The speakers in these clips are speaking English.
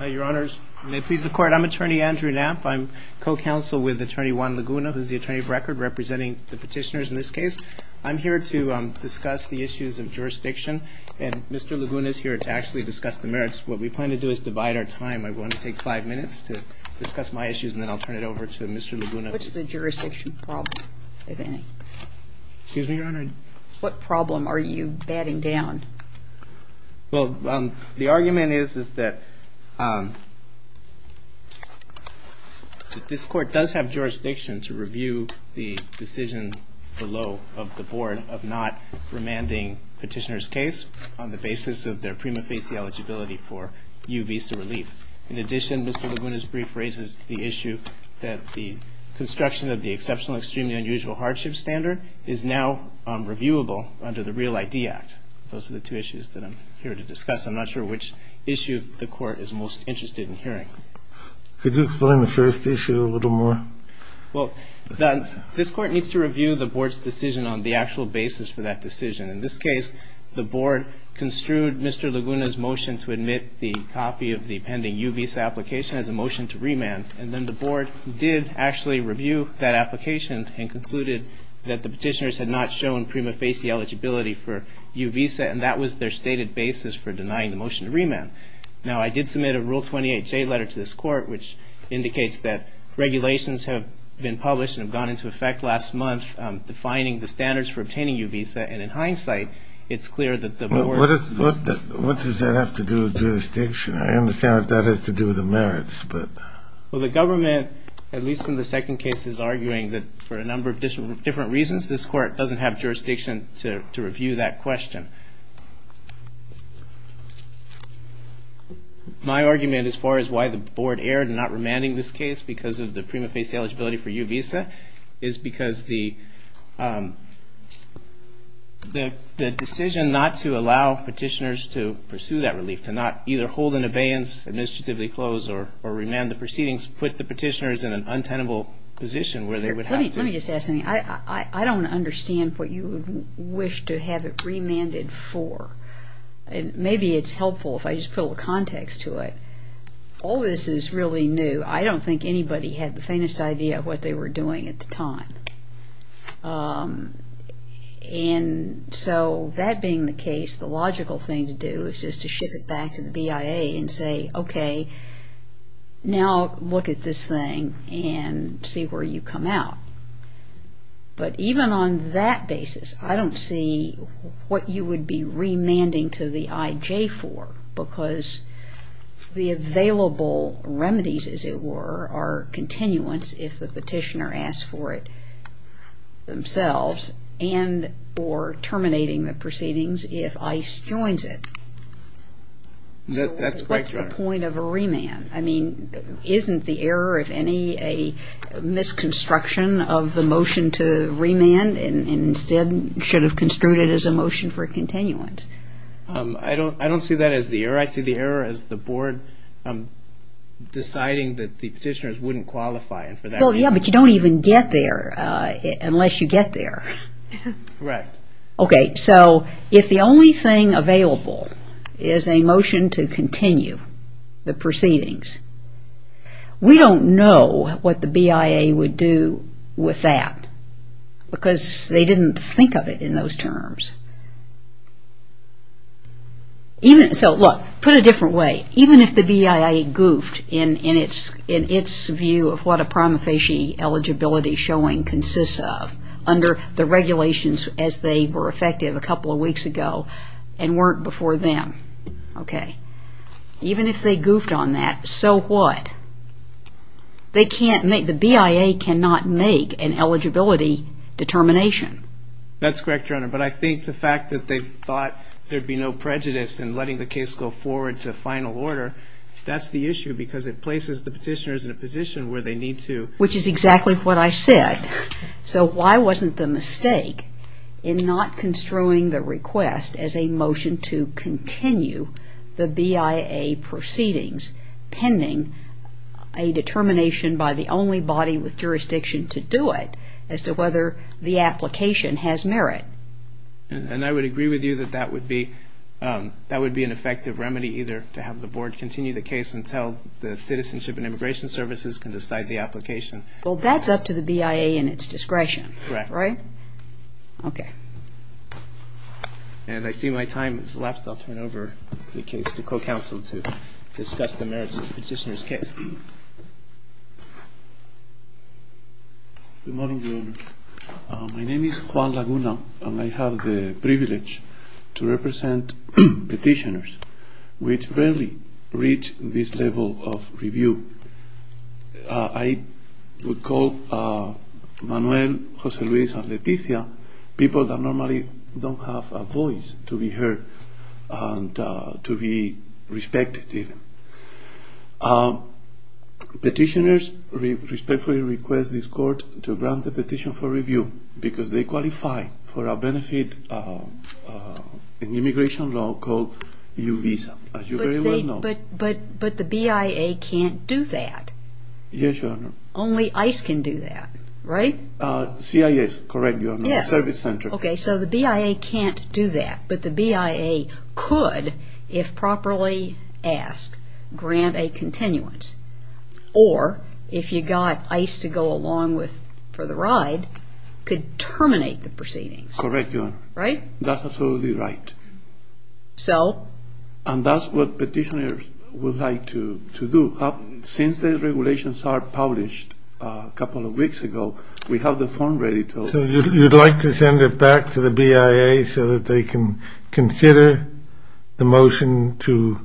I'm attorney Andrew Knapp. I'm co-counsel with attorney Juan Laguna who's the attorney of record representing the petitioners in this case. I'm here to discuss the issues of jurisdiction and Mr. Laguna is here to actually discuss the merits. What we plan to do is divide our time. I want to take five minutes to discuss my issues and then I'll turn it over to Mr. Laguna. What's the jurisdiction problem? What problem are you batting down? Well, the argument is that this court does have jurisdiction to review the decision below of the board of not remanding petitioner's case on the basis of their prima facie eligibility for U visa relief. In addition, Mr. Laguna's brief raises the issue that the construction of the exceptional extremely unusual hardship standard is now reviewable under the Real ID Act. Those are the two issues that I'm here to discuss. I'm not sure which issue the court is most interested in hearing. Could you explain the first issue a little more? Well, this court needs to review the board's decision on the actual basis for that decision. In this case, the board construed Mr. Laguna's motion to admit the copy of the pending U visa application as a motion to remand. And then the board did actually review that application and concluded that the petitioners had not shown prima facie eligibility for U visa and that was their stated basis for denying the motion to remand. Now, I did submit a Rule 28J letter to this court, which indicates that regulations have been published and have gone into effect last month defining the standards for obtaining U visa. And in hindsight, it's clear that the board What does that have to do with jurisdiction? I understand that that has to do with the merits, but Well, the government, at least in the second case, is arguing that for a number of different reasons, this court doesn't have jurisdiction to review that question. My argument as far as why the board erred in not remanding this case because of the prima facie eligibility for U visa is because the decision not to allow petitioners to pursue that relief, to not either hold an abeyance, administratively close, or remand the proceedings, put the petitioners in an untenable position where they would have to Let me just ask something. I don't understand what you would wish to have it remanded for. Maybe it's helpful if I just put a little context to it. All this is really new. I don't think anybody had the faintest idea of what they were doing at the time. And so that being the case, the logical thing to do is just to ship it back to the BIA and say, OK, now look at this thing and see where you come out. But even on that basis, I don't see what you would be remanding to the IJ for because the available remedies, as it were, are continuance if the petitioner asks for it themselves and or terminating the proceedings if ICE joins it. That's quite right. I mean, isn't the error, if any, a misconstruction of the motion to remand and instead should have construed it as a motion for continuance? I don't see that as the error. I see the error as the board deciding that the petitioners wouldn't qualify. Well, yeah, but you don't even get there unless you get there. Correct. OK, so if the only thing available is a motion to continue the proceedings, we don't know what the BIA would do with that because they didn't think of it in those terms. So, look, put it a different way. Even if the BIA goofed in its view of what a prima facie eligibility showing consists of under the regulations as they were effective a couple of weeks ago and weren't before them, OK, even if they goofed on that, so what? The BIA cannot make an eligibility determination. That's correct, Your Honor, but I think the fact that they thought there'd be no prejudice in letting the case go forward to final order, that's the issue because it places the petitioners in a position where they need to. Which is exactly what I said. So why wasn't the mistake in not construing the request as a motion to continue the BIA proceedings pending a determination by the only body with jurisdiction to do it as to whether the application has merit? And I would agree with you that that would be an effective remedy either to have the board continue the case until the Citizenship and Immigration Services can decide the application. Well, that's up to the BIA in its discretion, right? Correct. OK. And I see my time is left. I'll turn over the case to co-counsel to discuss the merits of the petitioner's case. Good morning, Your Honor. My name is Juan Laguna, and I have the privilege to represent petitioners which rarely reach this level of review. I would call Manuel, Jose Luis, and Leticia people that normally don't have a voice to be heard and to be respected. Petitioners respectfully request this court to grant the petition for review because they qualify for a benefit in immigration law called U-Visa, as you very well know. But the BIA can't do that. Yes, Your Honor. Only ICE can do that, right? CIS, correct, Your Honor. Yes. Service-centric. OK, so the BIA can't do that, but the BIA could, if properly asked, grant a continuance. Or, if you got ICE to go along for the ride, could terminate the proceedings. Correct, Your Honor. Right? That's absolutely right. So? And that's what petitioners would like to do. Since the regulations are published a couple of weeks ago, we have the form ready to open. So you'd like to send it back to the BIA so that they can consider the motion to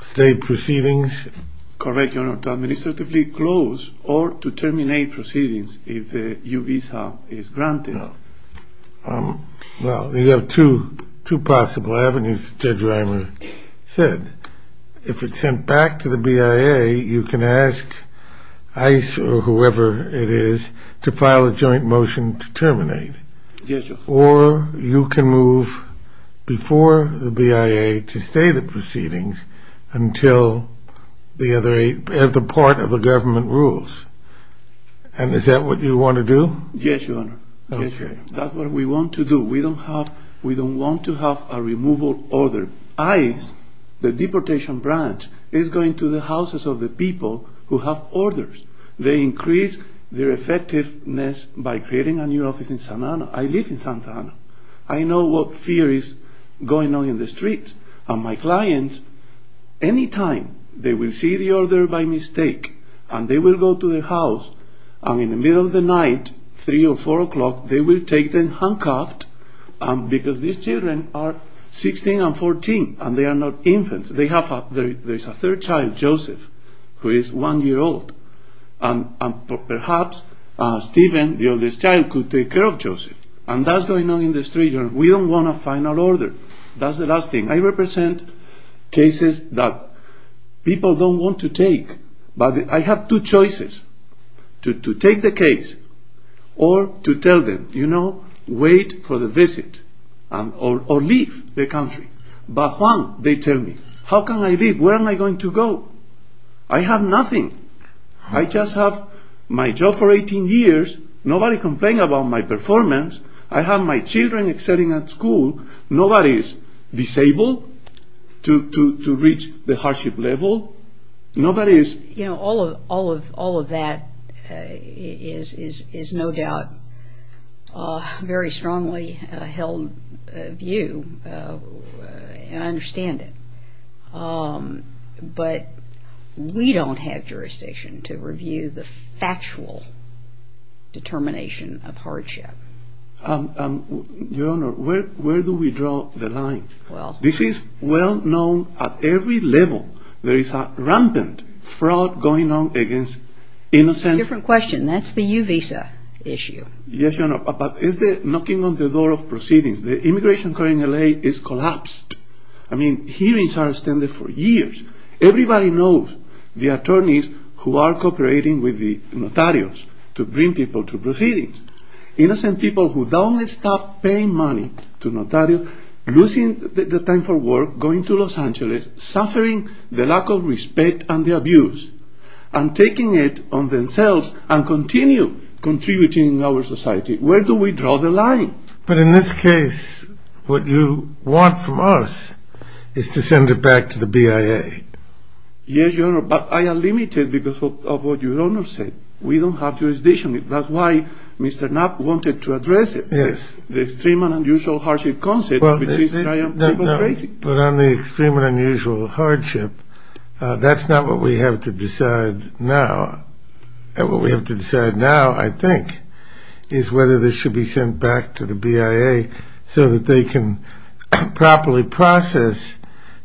stay proceedings? Correct, Your Honor. To administratively close or to terminate proceedings if the U-Visa is granted. Well, you have two possible avenues, Judge Reimer said. If it's sent back to the BIA, you can ask ICE or whoever it is to file a joint motion to terminate. Yes, Your Honor. Or you can move before the BIA to stay the proceedings until the other part of the government rules. And is that what you want to do? Yes, Your Honor. Okay. That's what we want to do. We don't want to have a removal order. ICE, the deportation branch, is going to the houses of the people who have orders. They increase their effectiveness by creating a new office in Santa Ana. I live in Santa Ana. I know what fear is going on in the streets. And my clients, any time they will see the order by mistake and they will go to their house. And in the middle of the night, 3 or 4 o'clock, they will take them handcuffed because these children are 16 and 14. And they are not infants. They have a third child, Joseph, who is one year old. And perhaps Stephen, the oldest child, could take care of Joseph. And that's going on in the street. We don't want a final order. That's the last thing. I represent cases that people don't want to take. But I have two choices, to take the case or to tell them, you know, wait for the visit or leave the country. But Juan, they tell me, how can I leave? Where am I going to go? I have nothing. I just have my job for 18 years. Nobody complained about my performance. I have my children sitting at school. Nobody is disabled to reach the hardship level. You know, all of that is no doubt a very strongly held view, and I understand it. But we don't have jurisdiction to review the factual determination of hardship. Your Honor, where do we draw the line? This is well known at every level. There is a rampant fraud going on against innocent people. Different question. That's the U-Visa issue. Yes, Your Honor. But it's the knocking on the door of proceedings. The immigration court in L.A. is collapsed. I mean, hearings are extended for years. Everybody knows the attorneys who are cooperating with the notaries to bring people to proceedings. Innocent people who don't stop paying money to notaries, losing the time for work, going to Los Angeles, suffering the lack of respect and the abuse, and taking it on themselves and continue contributing to our society. Where do we draw the line? But in this case, what you want from us is to send it back to the BIA. Yes, Your Honor, but I am limited because of what Your Honor said. We don't have jurisdiction. That's why Mr. Knapp wanted to address it. Yes. The extreme and unusual hardship concept. But on the extreme and unusual hardship, that's not what we have to decide now. What we have to decide now, I think, is whether this should be sent back to the BIA so that they can properly process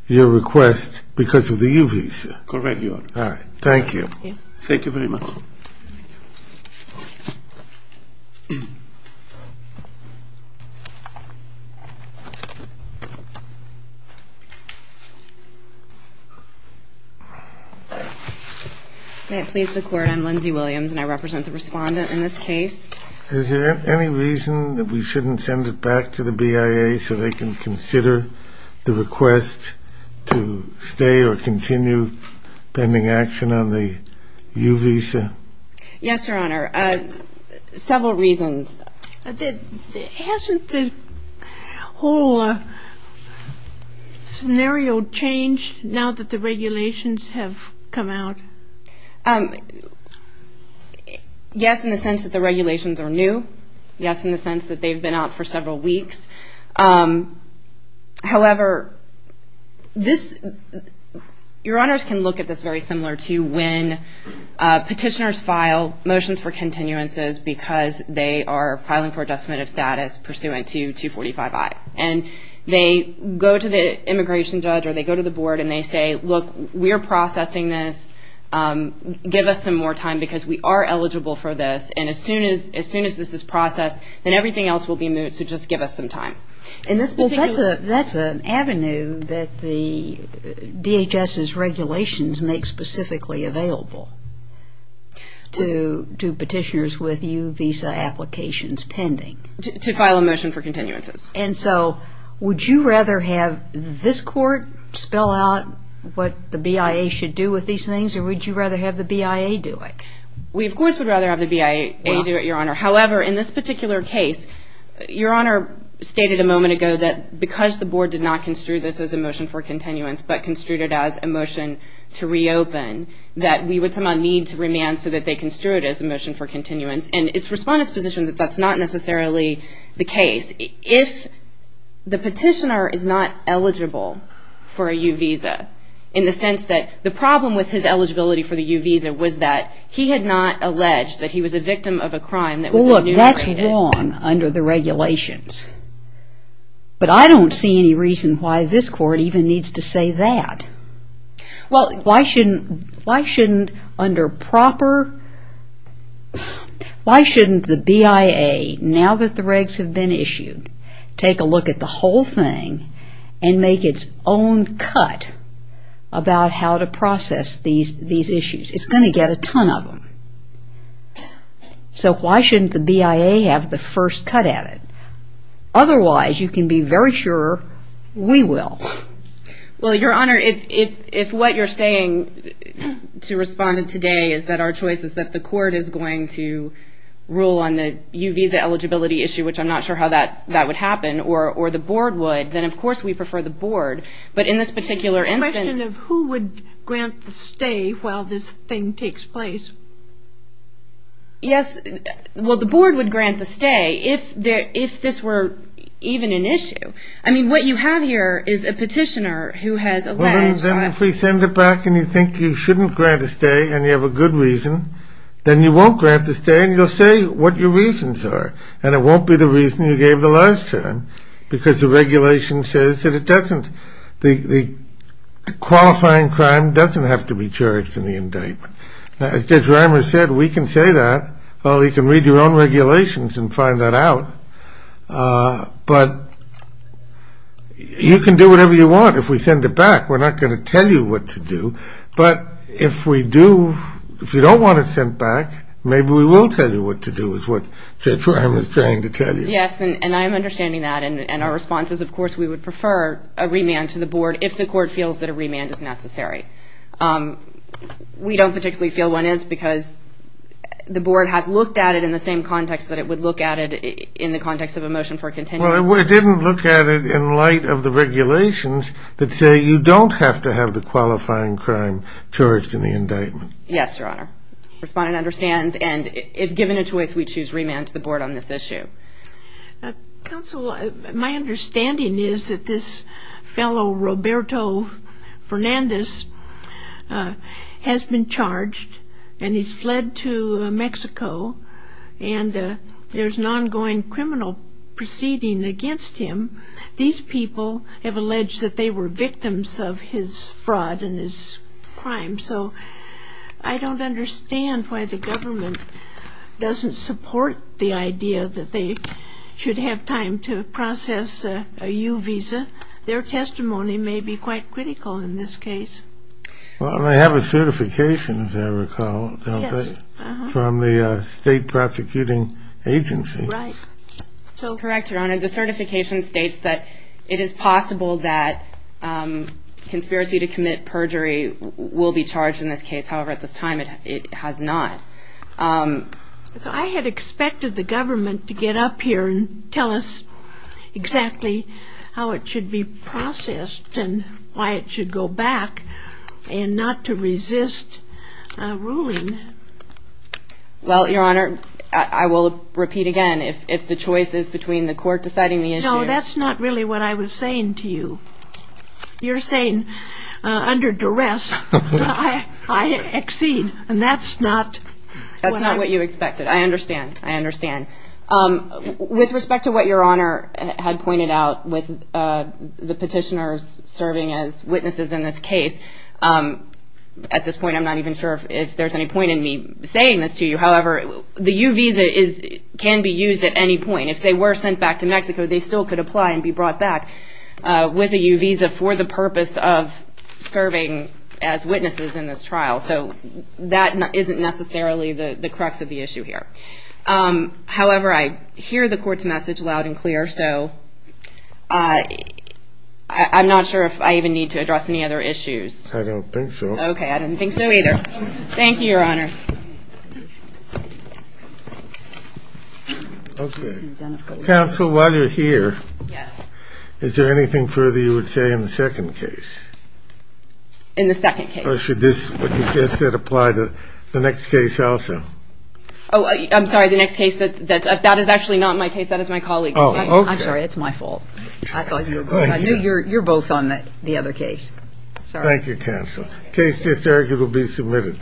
your request because of the U-Visa. Correct, Your Honor. All right. Thank you. Thank you very much. Thank you. May it please the Court, I'm Lindsay Williams, and I represent the respondent in this case. Is there any reason that we shouldn't send it back to the BIA so they can consider the request to stay or continue pending action on the U-Visa? Yes, Your Honor, several reasons. Hasn't the whole scenario changed now that the regulations have come out? Yes, in the sense that the regulations are new. Yes, in the sense that they've been out for several weeks. However, Your Honors can look at this very similar to when petitioners file motions for continuances because they are filing for a decimative status pursuant to 245-I. And they go to the immigration judge or they go to the board and they say, look, we're processing this, give us some more time because we are eligible for this. And as soon as this is processed, then everything else will be moot, so just give us some time. Well, that's an avenue that the DHS's regulations make specifically available to petitioners with U-Visa applications pending. To file a motion for continuances. And so would you rather have this Court spell out what the BIA should do with these things or would you rather have the BIA do it? We, of course, would rather have the BIA do it, Your Honor. However, in this particular case, Your Honor stated a moment ago that because the board did not construe this as a motion for continuance but construed it as a motion to reopen, that we would somehow need to remand so that they construe it as a motion for continuance. And it's Respondent's position that that's not necessarily the case. If the petitioner is not eligible for a U-Visa, in the sense that the problem with his eligibility for the U-Visa was that he had not alleged that he was a victim of a crime that was in New York. Well, look, that's wrong under the regulations. But I don't see any reason why this Court even needs to say that. Well, why shouldn't, under proper, why shouldn't the BIA, now that the regs have been issued, take a look at the whole thing and make its own cut about how to process these issues? It's going to get a ton of them. So why shouldn't the BIA have the first cut at it? Otherwise, you can be very sure we will. Well, Your Honor, if what you're saying to Respondent today is that our choice is that the Court is going to on the U-Visa eligibility issue, which I'm not sure how that would happen, or the Board would, then of course we prefer the Board. But in this particular instance... A question of who would grant the stay while this thing takes place. Yes, well, the Board would grant the stay if this were even an issue. I mean, what you have here is a petitioner who has alleged... Well, then if we send it back and you think you shouldn't grant a stay and you have a good reason, then you won't grant the stay and you'll say what your reasons are. And it won't be the reason you gave the last term, because the regulation says that the qualifying crime doesn't have to be charged in the indictment. As Judge Reimer said, we can say that. Well, you can read your own regulations and find that out. But you can do whatever you want. If we send it back, we're not going to tell you what to do. But if we do, if you don't want it sent back, maybe we will tell you what to do, is what Judge Reimer is trying to tell you. Yes, and I am understanding that. And our response is, of course, we would prefer a remand to the Board if the Court feels that a remand is necessary. We don't particularly feel one is because the Board has looked at it in the same context that it would look at it in the context of a motion for a continuation. Well, it didn't look at it in light of the regulations that say you don't have to have the qualifying crime charged in the indictment. Yes, Your Honor. Respondent understands. And if given a choice, we choose remand to the Board on this issue. Counsel, my understanding is that this fellow, Roberto Fernandez, has been charged, and he's fled to Mexico, and there's an ongoing criminal proceeding against him. These people have alleged that they were victims of his fraud and his crime, so I don't understand why the government doesn't support the idea that they should have time to process a U visa. Their testimony may be quite critical in this case. Well, they have a certification, as I recall, don't they? Yes. From the State Prosecuting Agency. Right. Correct, Your Honor. The certification states that it is possible that conspiracy to commit perjury will be charged in this case. However, at this time it has not. I had expected the government to get up here and tell us exactly how it should be processed and why it should go back and not to resist a ruling. Well, Your Honor, I will repeat again. If the choice is between the court deciding the issue. No, that's not really what I was saying to you. You're saying under duress I exceed, and that's not what I... That's not what you expected. I understand. I understand. With respect to what Your Honor had pointed out with the petitioners serving as witnesses in this case, at this point I'm not even sure if there's any point in me saying this to you. However, the U visa can be used at any point. If they were sent back to Mexico, they still could apply and be brought back with a U visa for the purpose of serving as witnesses in this trial. So that isn't necessarily the crux of the issue here. However, I hear the court's message loud and clear, so I'm not sure if I even need to address any other issues. I don't think so. Okay, I didn't think so either. Thank you, Your Honor. Okay. Counsel, while you're here... Yes. Is there anything further you would say in the second case? In the second case. Or should this, what you just said, apply to the next case also? Oh, I'm sorry, the next case, that is actually not my case. That is my colleague's case. Oh, okay. I'm sorry. It's my fault. I thought you were... Thank you. No, you're both on the other case. Sorry. Thank you, Counsel. The case is there. It will be submitted.